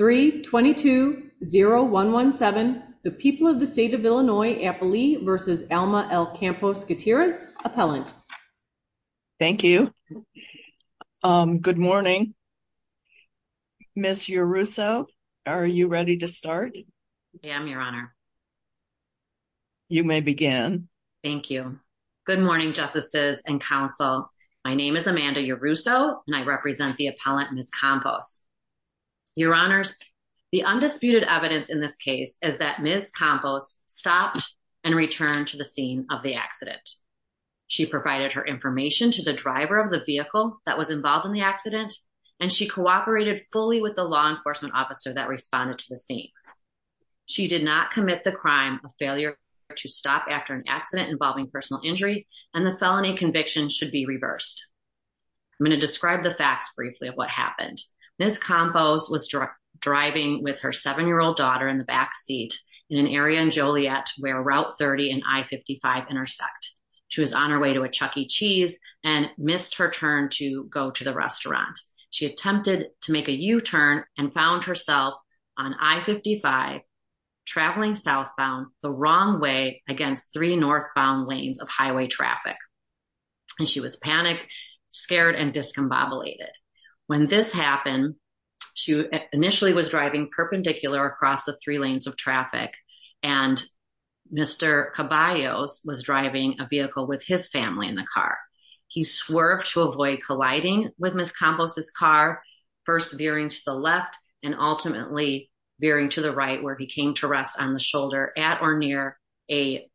322-0117, the people of the state of Illinois, Appalachia v. Alma L. Campos Gutierrez, Appellant. Thank you. Good morning. Ms. Yoruso, are you ready to start? I am, Your Honor. You may begin. Thank you. Good morning, Justices and Counsel. My name is Amanda Yoruso, and I represent the Appellant, Ms. Campos. Your Honors, the undisputed evidence in this case is that Ms. Campos stopped and returned to the scene of the accident. She provided her information to the driver of the vehicle that was involved in the accident, and she cooperated fully with the law enforcement officer that responded to the scene. She did not commit the crime of failure to stop after an accident involving personal injury, and the felony conviction should be reversed. I'm going to describe the facts briefly of what happened. Ms. Campos was driving with her 7-year-old daughter in the back seat in an area in Joliet where Route 30 and I-55 intersect. She was on her way to a Chuck E. Cheese and missed her turn to go to the restaurant. She attempted to make a U-turn and found herself on I-55 traveling southbound the wrong way against three northbound lanes of highway traffic. She was panicked, scared, and discombobulated. When this happened, she initially was driving perpendicular across the three lanes of traffic, and Mr. Caballos was driving a vehicle with his family in the car. He swerved to avoid colliding with Ms. Campos's car, first veering to the left and ultimately veering to the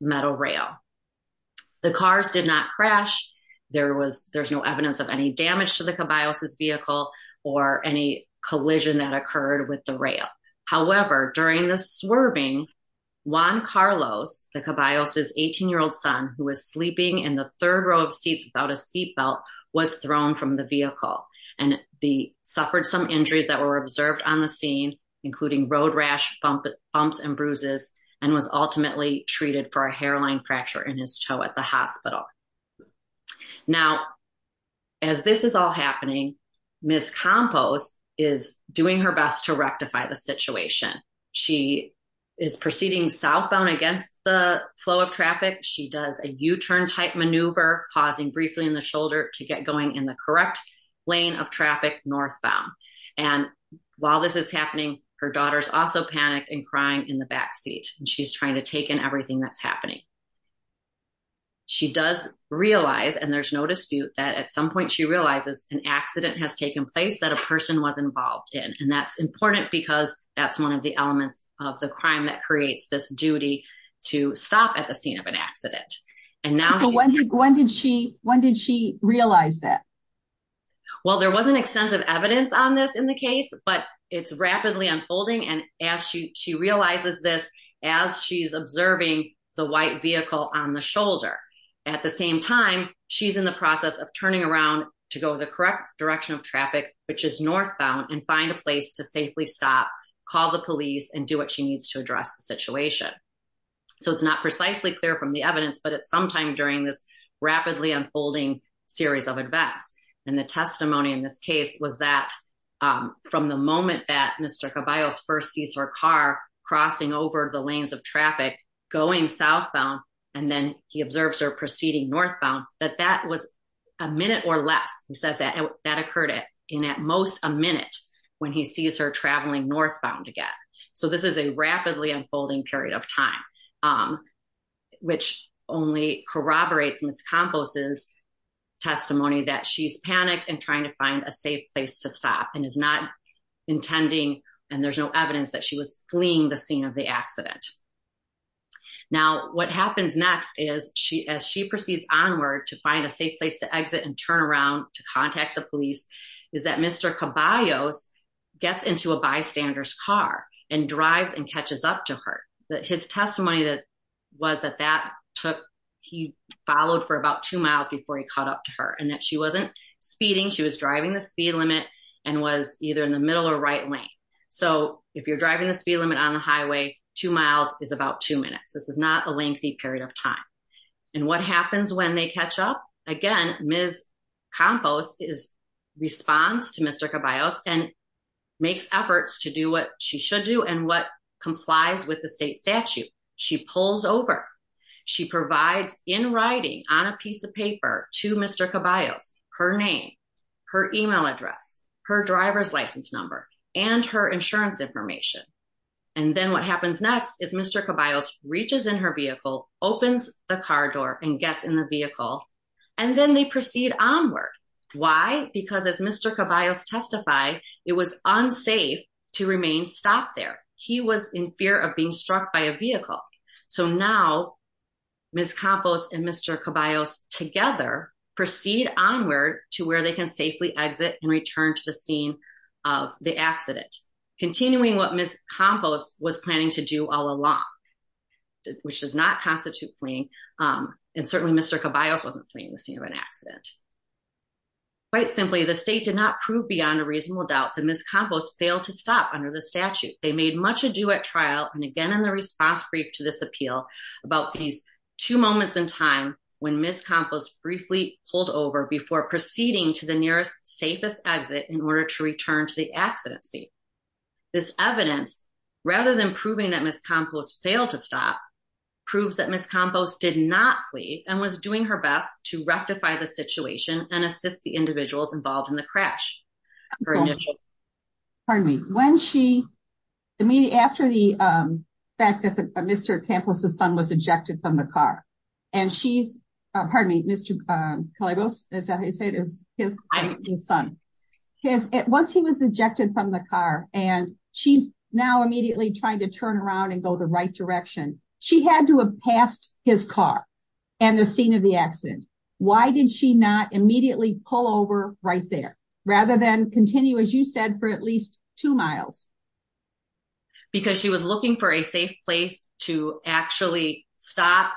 The cars did not crash. There's no evidence of any damage to the Caballos's vehicle or any collision that occurred with the rail. However, during the swerving, Juan Carlos, the Caballos's 18-year-old son, who was sleeping in the third row of seats without a seatbelt, was thrown from the vehicle. He suffered some injuries that were observed on the scene, including road rash, bumps, and bruises, and was ultimately treated for a hairline fracture in his toe at the hospital. Now, as this is all happening, Ms. Campos is doing her best to rectify the situation. She is proceeding southbound against the flow of traffic. She does a U-turn type maneuver, pausing briefly in the shoulder to get going in the correct lane of traffic northbound. And while this is happening, her daughter's also panicked and crying in the backseat. She's trying to take in everything that's happening. She does realize, and there's no dispute, that at some point she realizes an accident has taken place that a person was involved in. And that's important because that's one of the elements of the crime that creates this duty to stop at the scene of an accident. So when did she realize that? Well, there wasn't extensive evidence on this in the case, but it's rapidly unfolding. And as she realizes this, as she's observing the white vehicle on the shoulder. At the same time, she's in the process of turning around to go the correct direction of traffic, which is northbound, and find a place to safely stop, call the police, and do what she needs to address the situation. So it's not precisely clear from the evidence, but it's sometime during this rapidly unfolding series of events. And the testimony in this case was that from the moment that Mr. Caballos first sees her car crossing over the lanes of traffic, going southbound, and then he observes her proceeding northbound, that that was a minute or less, he says, that occurred in at most a minute when he sees her traveling northbound again. So this is a rapidly unfolding period of time, which only corroborates Ms. Campos' testimony that she's panicked and trying to find a safe place to stop and is not intending, and there's no evidence that she was fleeing the scene of the accident. Now, what happens next is, as she proceeds onward to find a safe place to exit and turn around to contact the police, is that Mr. Caballos gets into a car. His testimony was that he followed for about two miles before he caught up to her, and that she wasn't speeding, she was driving the speed limit and was either in the middle or right lane. So if you're driving the speed limit on the highway, two miles is about two minutes. This is not a lengthy period of time. And what happens when they catch up? Again, Ms. Campos responds to Mr. Caballos and makes efforts to do what she should do and what complies with the state statute. She pulls over, she provides in writing on a piece of paper to Mr. Caballos, her name, her email address, her driver's license number, and her insurance information. And then what happens next is Mr. Caballos reaches in her vehicle, opens the car door and gets in the vehicle, and then they testify it was unsafe to remain stopped there. He was in fear of being struck by a vehicle. So now Ms. Campos and Mr. Caballos together proceed onward to where they can safely exit and return to the scene of the accident, continuing what Ms. Campos was planning to do all along, which does not constitute fleeing. And certainly Mr. Caballos wasn't fleeing the scene of an accident. Quite simply, the state did not prove beyond a reasonable doubt that Ms. Campos failed to stop under the statute. They made much ado at trial and again in the response brief to this appeal about these two moments in time when Ms. Campos briefly pulled over before proceeding to the nearest safest exit in order to return to the accident scene. This evidence, rather than proving that Ms. Campos failed to stop, proves that Ms. Campos did not flee and was doing her best to assist the individuals involved in the crash. Pardon me, when she, after the fact that Mr. Campos' son was ejected from the car, and she's, pardon me, Mr. Caballos, is that how you say it? His son. Once he was ejected from the car and she's now immediately trying to turn around and go the right direction, she had to pass his car and the scene of the accident. Why did she not immediately pull over right there rather than continue, as you said, for at least two miles? Because she was looking for a safe place to actually stop,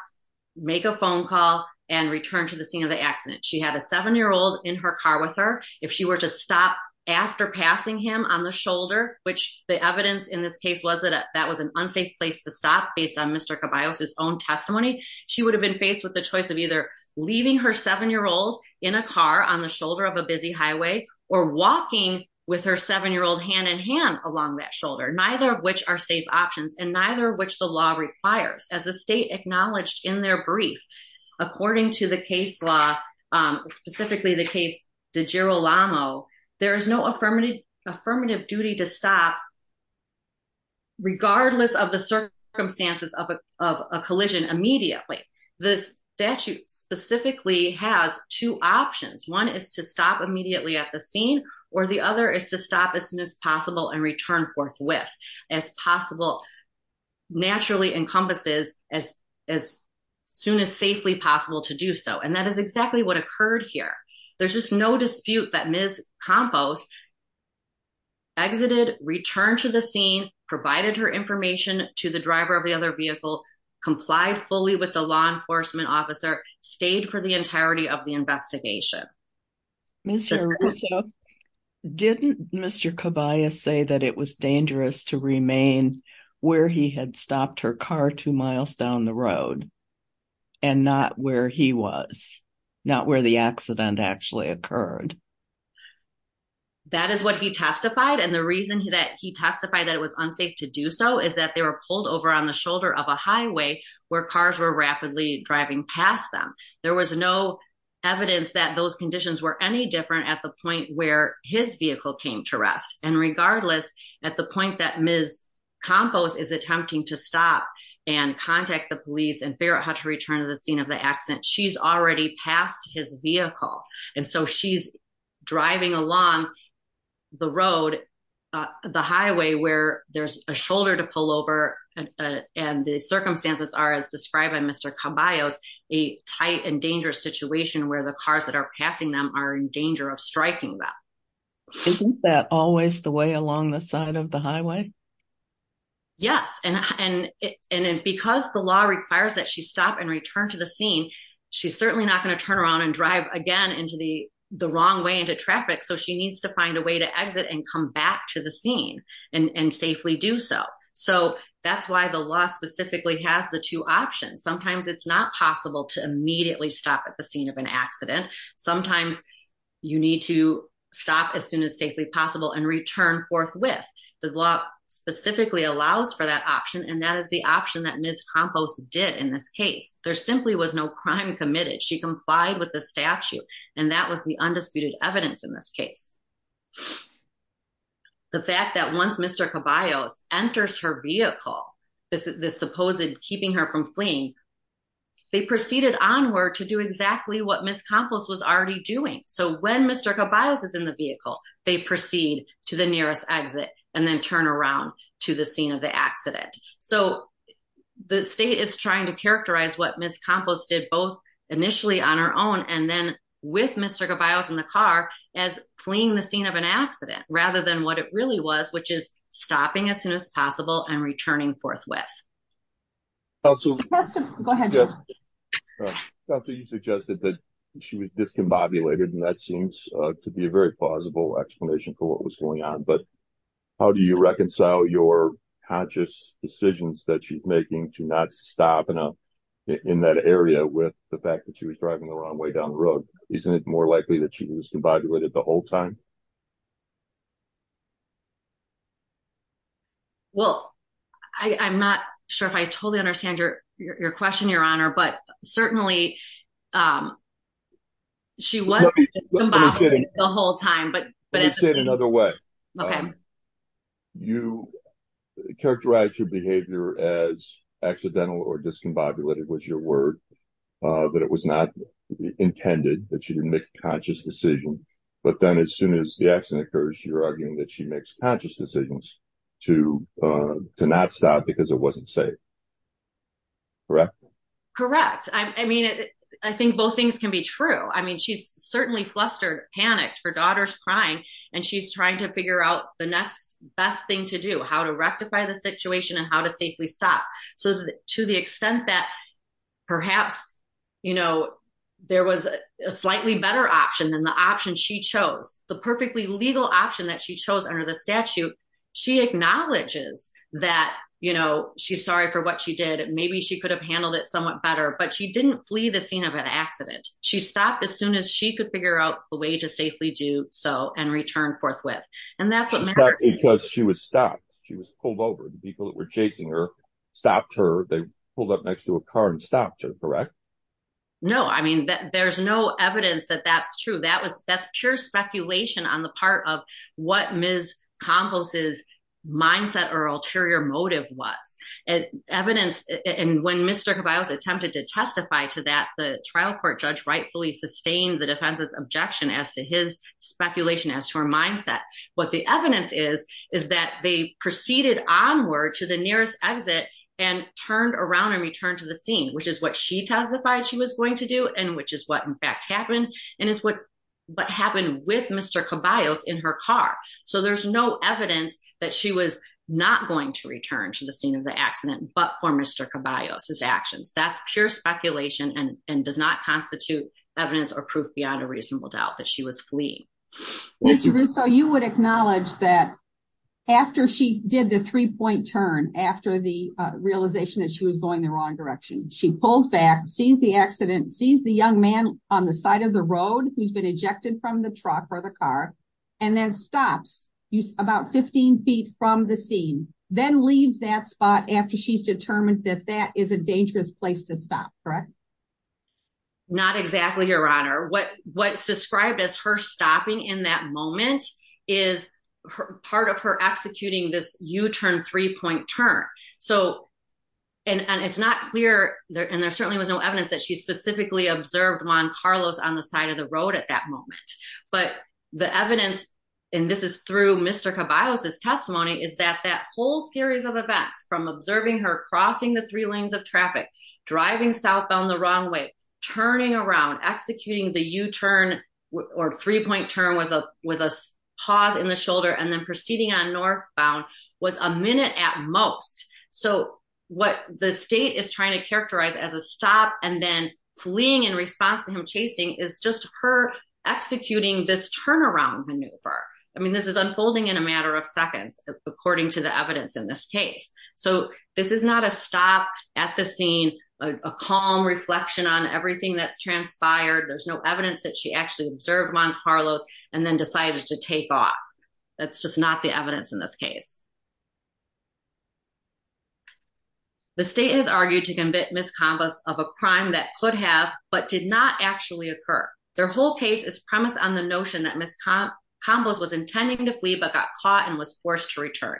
make a phone call, and return to the scene of the accident. She had a seven-year-old in her car with her. If she were to stop after passing him on the shoulder, which the evidence in this case was that that was an unsafe place to stop based on Mr. Caballos' own testimony, she would have been faced with the choice of either leaving her seven-year-old in a car on the shoulder of a busy highway or walking with her seven-year-old hand-in-hand along that shoulder, neither of which are safe options and neither of which the law requires. As the state acknowledged in their brief, according to the case law, specifically the case DeGirolamo, there is no affirmative duty to stop regardless of the circumstances of a collision immediately. The statute specifically has two options. One is to stop immediately at the scene, or the other is to stop as soon as possible and return forthwith as possible, naturally encompasses as soon as safely possible to do so. And that is exactly what occurred here. There's just no dispute that Ms. Campos exited, returned to the scene, provided her information to the driver of the other vehicle, complied fully with the law enforcement officer, stayed for the entirety of the investigation. Mr. Russo, didn't Mr. Caballos say that it was dangerous to remain where he had stopped her car two miles down the road and not where he was, not where the accident actually occurred? That is what he testified. And the reason that he testified that it was unsafe to do so is that they were pulled over on the shoulder of a highway where cars were rapidly driving past them. There was no evidence that those conditions were any different at the point where his vehicle came to stop and contact the police and figure out how to return to the scene of the accident. She's already passed his vehicle. And so she's driving along the road, the highway where there's a shoulder to pull over. And the circumstances are as described by Mr. Caballos, a tight and dangerous situation where the cars that are passing them are in danger of striking them. Isn't that always the way along the side of the highway? Yes. And because the law requires that she stop and return to the scene, she's certainly not going to turn around and drive again into the wrong way into traffic. So she needs to find a way to exit and come back to the scene and safely do so. So that's why the law specifically has the two options. Sometimes it's not possible to immediately stop at the scene of an accident. Sometimes you need to stop as soon as safely possible and return forthwith. The law specifically allows for that option and that is the option that Ms. Campos did in this case. There simply was no crime committed. She complied with the statute and that was the undisputed evidence in this case. The fact that once Mr. Caballos enters her vehicle, this supposed keeping her from fleeing, they proceeded onward to do exactly what Ms. Campos was already doing. So when Mr. Caballos is in the vehicle, they proceed to the nearest exit and then turn around to the scene of the accident. So the state is trying to characterize what Ms. Campos did both initially on her own and then with Mr. Caballos in the car as fleeing the scene of an accident rather than what it really was, which is stopping as soon as possible and returning forthwith. Counselor, you suggested that she was discombobulated and that seems to be a very plausible explanation for what was going on, but how do you reconcile your conscious decisions that she's making to not stop in that area with the fact that she was driving the wrong way down the road? Isn't it more likely that she was discombobulated the whole time? Well, I'm not sure if I totally understand your question, Your Honor, but certainly she was discombobulated the whole time. Let me say it another way. You characterized her behavior as accidental or discombobulated was your word, but it was not intended that she didn't make a conscious decision. But then as soon as the accident occurs, you're arguing that she makes conscious decisions to not stop because it wasn't safe. Correct? Correct. I mean, I think both things can be true. I mean, she's certainly flustered, panicked, her daughter's crying, and she's trying to figure out the next best thing to do, how to you know, there was a slightly better option than the option she chose. The perfectly legal option that she chose under the statute, she acknowledges that, you know, she's sorry for what she did. Maybe she could have handled it somewhat better, but she didn't flee the scene of an accident. She stopped as soon as she could figure out the way to safely do so and return forthwith. And that's because she was stopped. She was pulled over. The people that were chasing her they pulled up next to a car and stopped her, correct? No, I mean, there's no evidence that that's true. That's pure speculation on the part of what Ms. Campos' mindset or ulterior motive was. And when Mr. Caballos attempted to testify to that, the trial court judge rightfully sustained the defense's objection as to his speculation as to her mindset. What the evidence is, is that they proceeded onward to the nearest exit and turned around and returned to the scene, which is what she testified she was going to do, and which is what in fact happened, and is what happened with Mr. Caballos in her car. So there's no evidence that she was not going to return to the scene of the accident, but for Mr. Caballos' actions. That's pure speculation and does not constitute evidence or proof beyond a reasonable doubt that she was fleeing. Mr. Russo, you would acknowledge that after she did the three-point turn, after the realization that she was going the wrong direction, she pulls back, sees the accident, sees the young man on the side of the road who's been ejected from the truck or the car, and then stops about 15 feet from the scene, then leaves that spot after she's determined that that is a dangerous place to stop, correct? Not exactly, Your Honor. What's described as her stopping in that moment is part of her executing this U-turn, three-point turn. And it's not clear, and there certainly was no evidence that she specifically observed Juan Carlos on the side of the road at that moment. But the evidence, and this is through Mr. Caballos' testimony, is that that whole series of events, from observing her crossing the three lanes of traffic, driving southbound the wrong way, turning around, executing the U-turn or three-point turn with a pause in the shoulder, and then proceeding on northbound, was a minute at most. So what the state is trying to characterize as a stop and then fleeing in response to him chasing is just her executing this turnaround I mean, this is unfolding in a matter of seconds, according to the evidence in this case. So this is not a stop at the scene, a calm reflection on everything that's transpired. There's no evidence that she actually observed Juan Carlos and then decided to take off. That's just not the evidence in this case. The state has argued to commit misconduct of a crime that could have but did not actually occur. Their whole case is premised on the notion that Ms. Campos was intending to flee but got caught and was forced to return.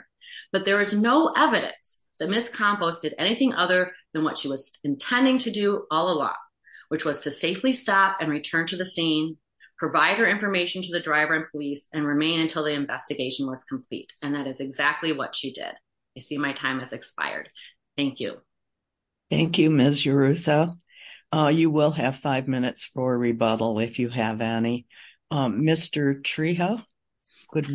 But there is no evidence that Ms. Campos did anything other than what she was intending to do all along, which was to safely stop and return to the scene, provide her information to the driver and police, and remain until the investigation was complete. And that is exactly what she did. I see my time has expired. Thank you. Thank you, Ms. Urruta. You will have five minutes for a rebuttal if you have any. Mr. Trejo. Good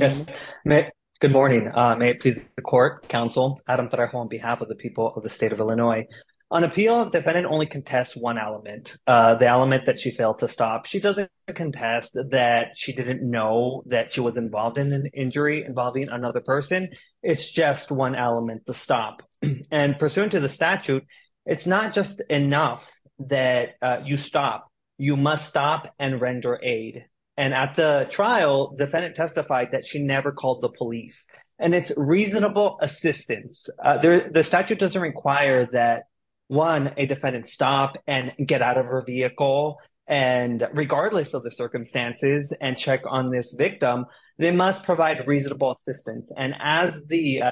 morning. May it please the court, counsel, Adam Trejo on behalf of the people of the state of Illinois. On appeal, defendant only contests one element, the element that she failed to stop. She doesn't contest that she didn't know that she was involved in an injury involving another person. It's just one element, the stop. And pursuant to the statute, it's not just enough that you stop. You must stop and render aid. And at the trial, defendant testified that she never called the police. And it's reasonable assistance. The statute doesn't require that, one, a defendant stop and get out of her vehicle, and regardless of the circumstances, and check on this victim, they must provide reasonable assistance. And as the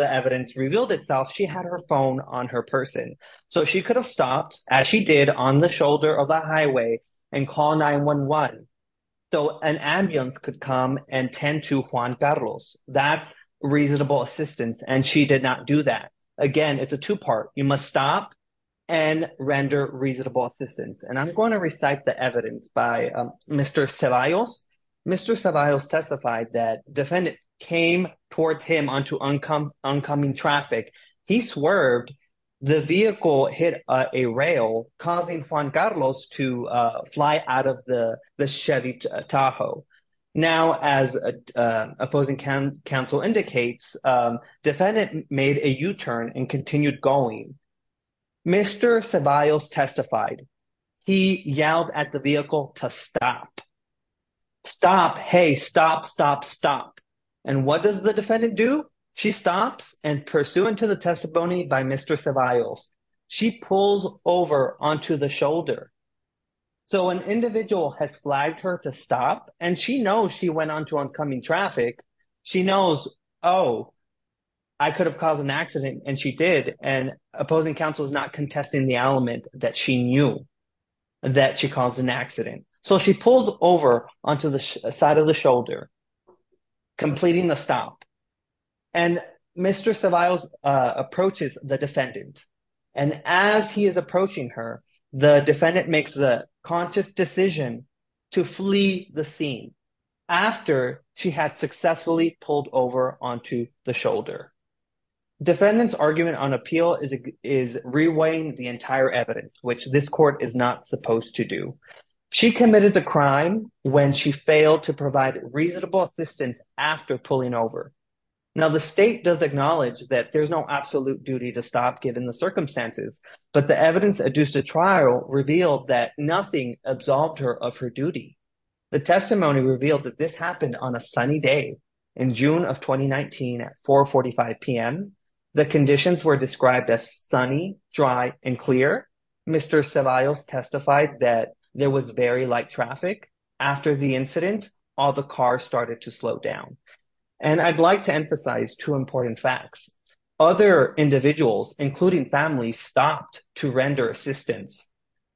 evidence revealed itself, she had her phone on her person. So she could have stopped, as she did, on the shoulder of the highway and call 911. So an ambulance could come and tend to Juan Perros. That's reasonable assistance, and she did not do that. Again, it's a two-part. You must stop and render reasonable assistance. And I'm going to recite the evidence by Mr. Ceballos. Mr. Ceballos testified that defendant came towards him onto oncoming traffic. He swerved. The vehicle hit a rail, causing Juan Carlos to fly out of the Chevy Tahoe. Now, as opposing counsel indicates, defendant made a U-turn and continued going. Mr. Ceballos testified. He yelled at the vehicle to stop. Stop. Hey, stop, stop, stop. And what does the defendant do? She stops, and pursuant to the testimony by Mr. Ceballos, she pulls over onto the shoulder. So an individual has flagged her to stop, and she knows she went onto oncoming traffic. She knows, oh, I could have caused an accident, and she did. And opposing counsel is not contesting the element that she knew that she caused an accident. So she pulls over onto the side of the shoulder, completing the stop. And Mr. Ceballos approaches the defendant, and as he is approaching her, the defendant makes the conscious decision to flee the scene after she had successfully pulled over onto the shoulder. Defendant's argument on appeal is reweighing the entire evidence, which this court is not supposed to do. She committed the crime when she failed to provide reasonable assistance after pulling over. Now, the state does acknowledge that there's no absolute duty to stop given the circumstances, but the evidence adduced at trial revealed that nothing absolved her of her duty. The testimony revealed that this happened on a sunny day in June of 2019 at 4 45 p.m. The conditions were described as sunny, dry, and clear. Mr. Ceballos testified that there was very light traffic. After the incident, all the cars started to slow down. And I'd like to emphasize two important facts. Other individuals, including families, stopped to render assistance,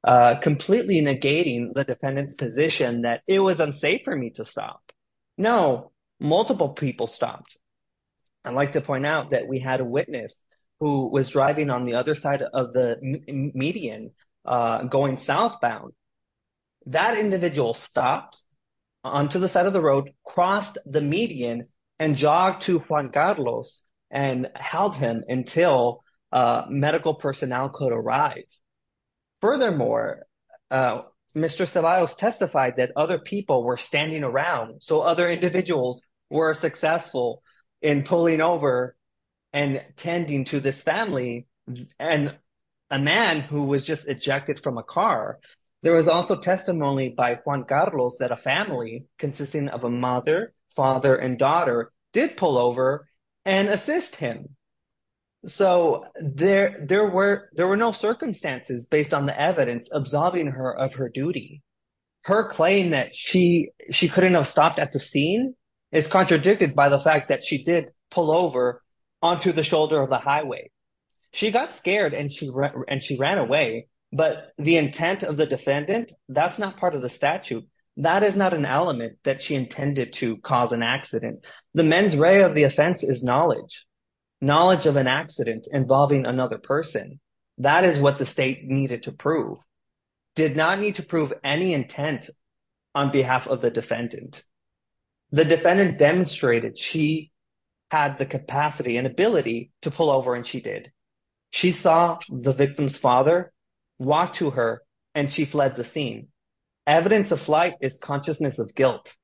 completely negating the defendant's position that it was unsafe for me to stop. No, multiple people stopped. I'd like to point out that we had a witness who was driving on the other side of the median, going southbound. That individual stopped onto the side of the road, crossed the median, and jogged to Juan Carlos and held him until medical personnel could arrive. Furthermore, Mr. Ceballos testified that other people were standing around, so other individuals were successful in pulling over and tending to this family and a man who was just ejected from a car. There was also testimony by Juan Carlos that a family consisting of a mother, father, and daughter did pull over and assist him. So there were no circumstances based on the evidence absolving her of her duty. Her claim that she couldn't have stopped at the scene is contradicted by the fact that she did pull over onto the shoulder of the highway. She got scared and she ran away, but the intent of the defendant, that's not part of the statute. That is not an element that she intended to cause an accident. The mens rea of the offense is knowledge. Knowledge of an accident involving another person. That is what the state needed to prove. Did not need to prove any intent on behalf of the defendant. The defendant demonstrated she had the capacity and ability to pull over and she did. She saw the victim's father walk to her and she fled the scene. Evidence of flight is consciousness of guilt.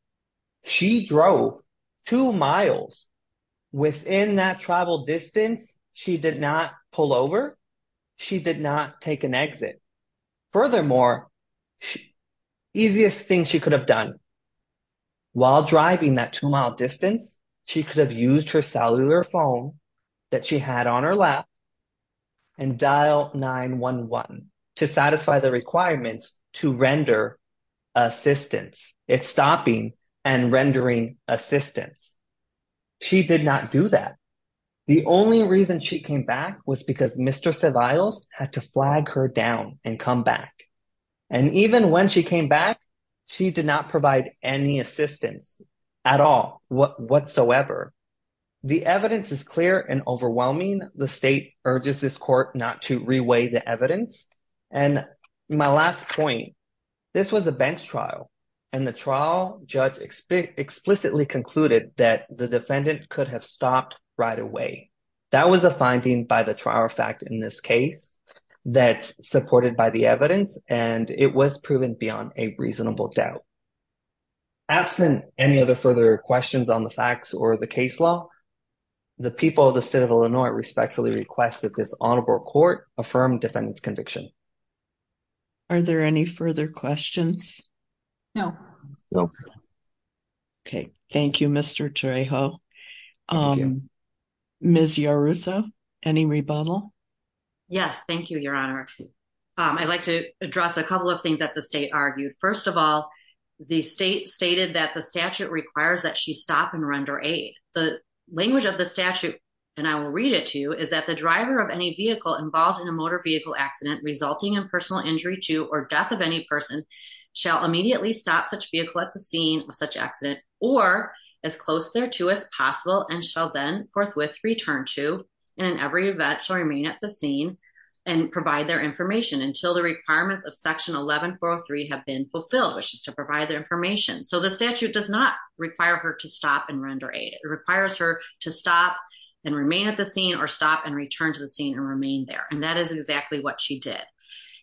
She drove two miles within that travel distance. She did not pull over. She did not take an exit. Furthermore, easiest thing she could have done while driving that two-mile distance, she could have used her to render assistance. It's stopping and rendering assistance. She did not do that. The only reason she came back was because Mr. Saviles had to flag her down and come back. Even when she came back, she did not provide any assistance at all whatsoever. The evidence is clear. The trial judge explicitly concluded that the defendant could have stopped right away. That was a finding by the trial fact in this case that's supported by the evidence and it was proven beyond a reasonable doubt. Absent any other further questions on the facts or the case law, the people of the state of Illinois respectfully request that this honorable court affirm defendant's conviction. Are there any further questions? No. No. Okay. Thank you, Mr. Trejo. Ms. Yaruso, any rebuttal? Yes. Thank you, your honor. I'd like to address a couple of things that the state argued. First of all, the state stated that the statute requires that she stop and render aid. The language of the statute, and I will read it to you, is that driver of any vehicle involved in a motor vehicle accident resulting in personal injury to or death of any person shall immediately stop such vehicle at the scene of such accident or as close there to as possible and shall then forthwith return to and in every event shall remain at the scene and provide their information until the requirements of section 11403 have been fulfilled, which is to provide the information. So the statute does not require her to stop and render aid. It requires her to stop and remain at the scene or stop and return to the scene and remain there, and that is exactly what she did.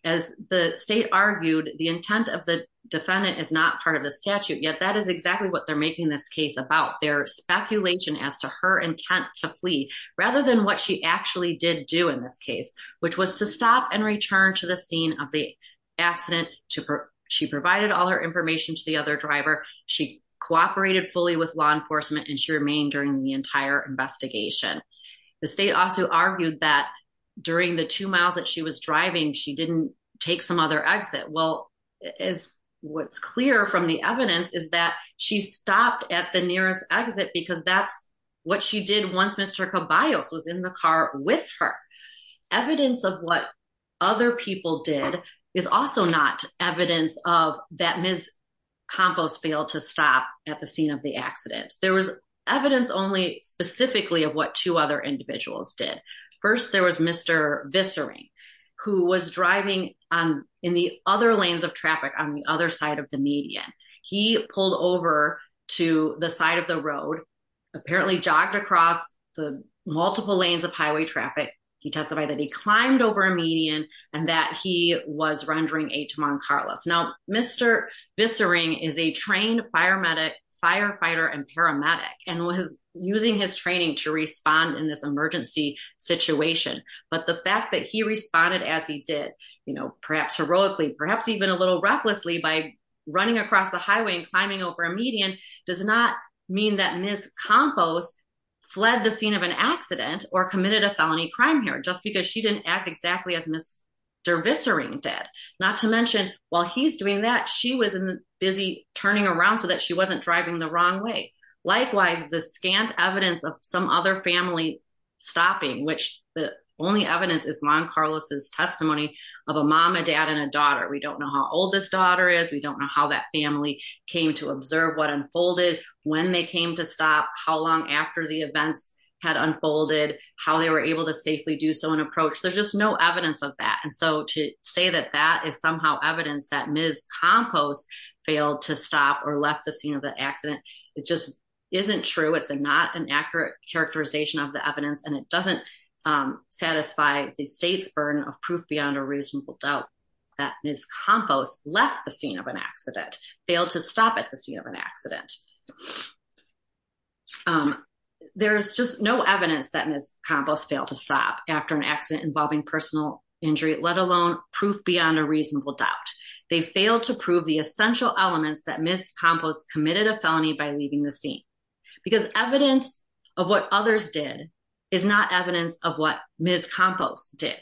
As the state argued, the intent of the defendant is not part of the statute, yet that is exactly what they're making this case about. Their speculation as to her intent to flee rather than what she actually did do in this case, which was to stop and return to the scene of the accident. She provided all her information to the other driver. She cooperated fully with enforcement and she remained during the entire investigation. The state also argued that during the two miles that she was driving, she didn't take some other exit. Well, as what's clear from the evidence is that she stopped at the nearest exit because that's what she did once Mr. Caballos was in the car with her. Evidence of what other people did is also not evidence of that Ms. Campos failed to stop at the scene of the accident. There was evidence only specifically of what two other individuals did. First, there was Mr. Vissering who was driving on in the other lanes of traffic on the other side of the median. He pulled over to the side of the road, apparently jogged across the multiple lanes of highway traffic. He testified that he climbed over a median and that he was rendering a Taman Carlos. Now, Mr. Vissering is a trained firefighter and paramedic and was using his training to respond in this emergency situation. But the fact that he responded as he did, perhaps heroically, perhaps even a little recklessly by running across the highway and climbing over a median does not mean that Ms. Campos fled the scene of Mr. Vissering dead. Not to mention, while he's doing that, she was busy turning around so that she wasn't driving the wrong way. Likewise, the scant evidence of some other family stopping, which the only evidence is Juan Carlos's testimony of a mom, a dad, and a daughter. We don't know how old this daughter is. We don't know how that family came to observe what unfolded, when they came to stop, how long after the events had unfolded, how they were able to safely do so approach. There's just no evidence of that. And so to say that that is somehow evidence that Ms. Campos failed to stop or left the scene of the accident, it just isn't true. It's not an accurate characterization of the evidence and it doesn't satisfy the state's burden of proof beyond a reasonable doubt that Ms. Campos left the scene of an accident, failed to stop at the scene of accident involving personal injury, let alone proof beyond a reasonable doubt. They failed to prove the essential elements that Ms. Campos committed a felony by leaving the scene. Because evidence of what others did is not evidence of what Ms. Campos did.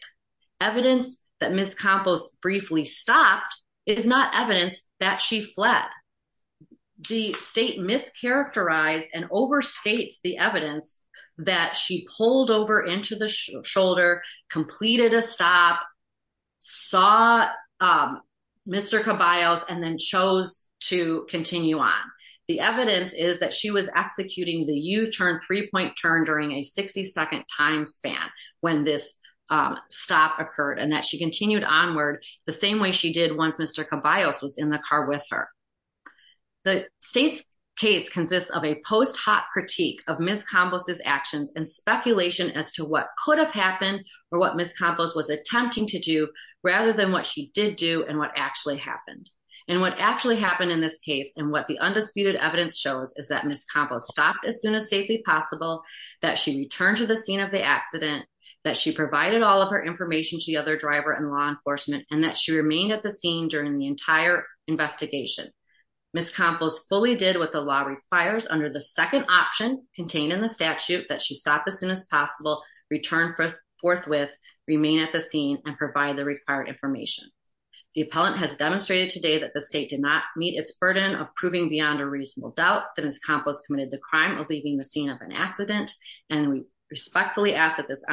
Evidence that Ms. Campos briefly stopped is not evidence that she fled. The state mischaracterized and completed a stop, saw Mr. Caballos and then chose to continue on. The evidence is that she was executing the U-turn, three-point turn during a 60-second time span when this stop occurred and that she continued onward the same way she did once Mr. Caballos was in the car with her. The state's case consists of a post-hot critique of Ms. Campos's actions and speculation as to what could have happened or what Ms. Campos was attempting to do rather than what she did do and what actually happened. And what actually happened in this case and what the undisputed evidence shows is that Ms. Campos stopped as soon as safely possible, that she returned to the scene of the accident, that she provided all of her information to the other driver and law enforcement and that she remained at the scene during the entire investigation. Ms. Campos fully did what the law requires under the second option contained in the statute that she stopped as soon as possible return forthwith, remain at the scene and provide the required information. The appellant has demonstrated today that the state did not meet its burden of proving beyond a reasonable doubt that Ms. Campos committed the crime of leaving the scene of an accident and we respectfully ask that this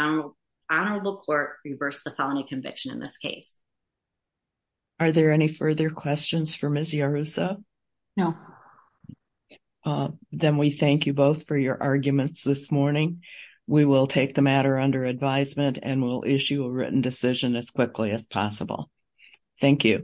honorable court reverse the felony conviction in this case. Are there any further questions for Ms. Campos? If not, we will take the matter under advisement and will issue a written decision as quickly as possible. Thank you.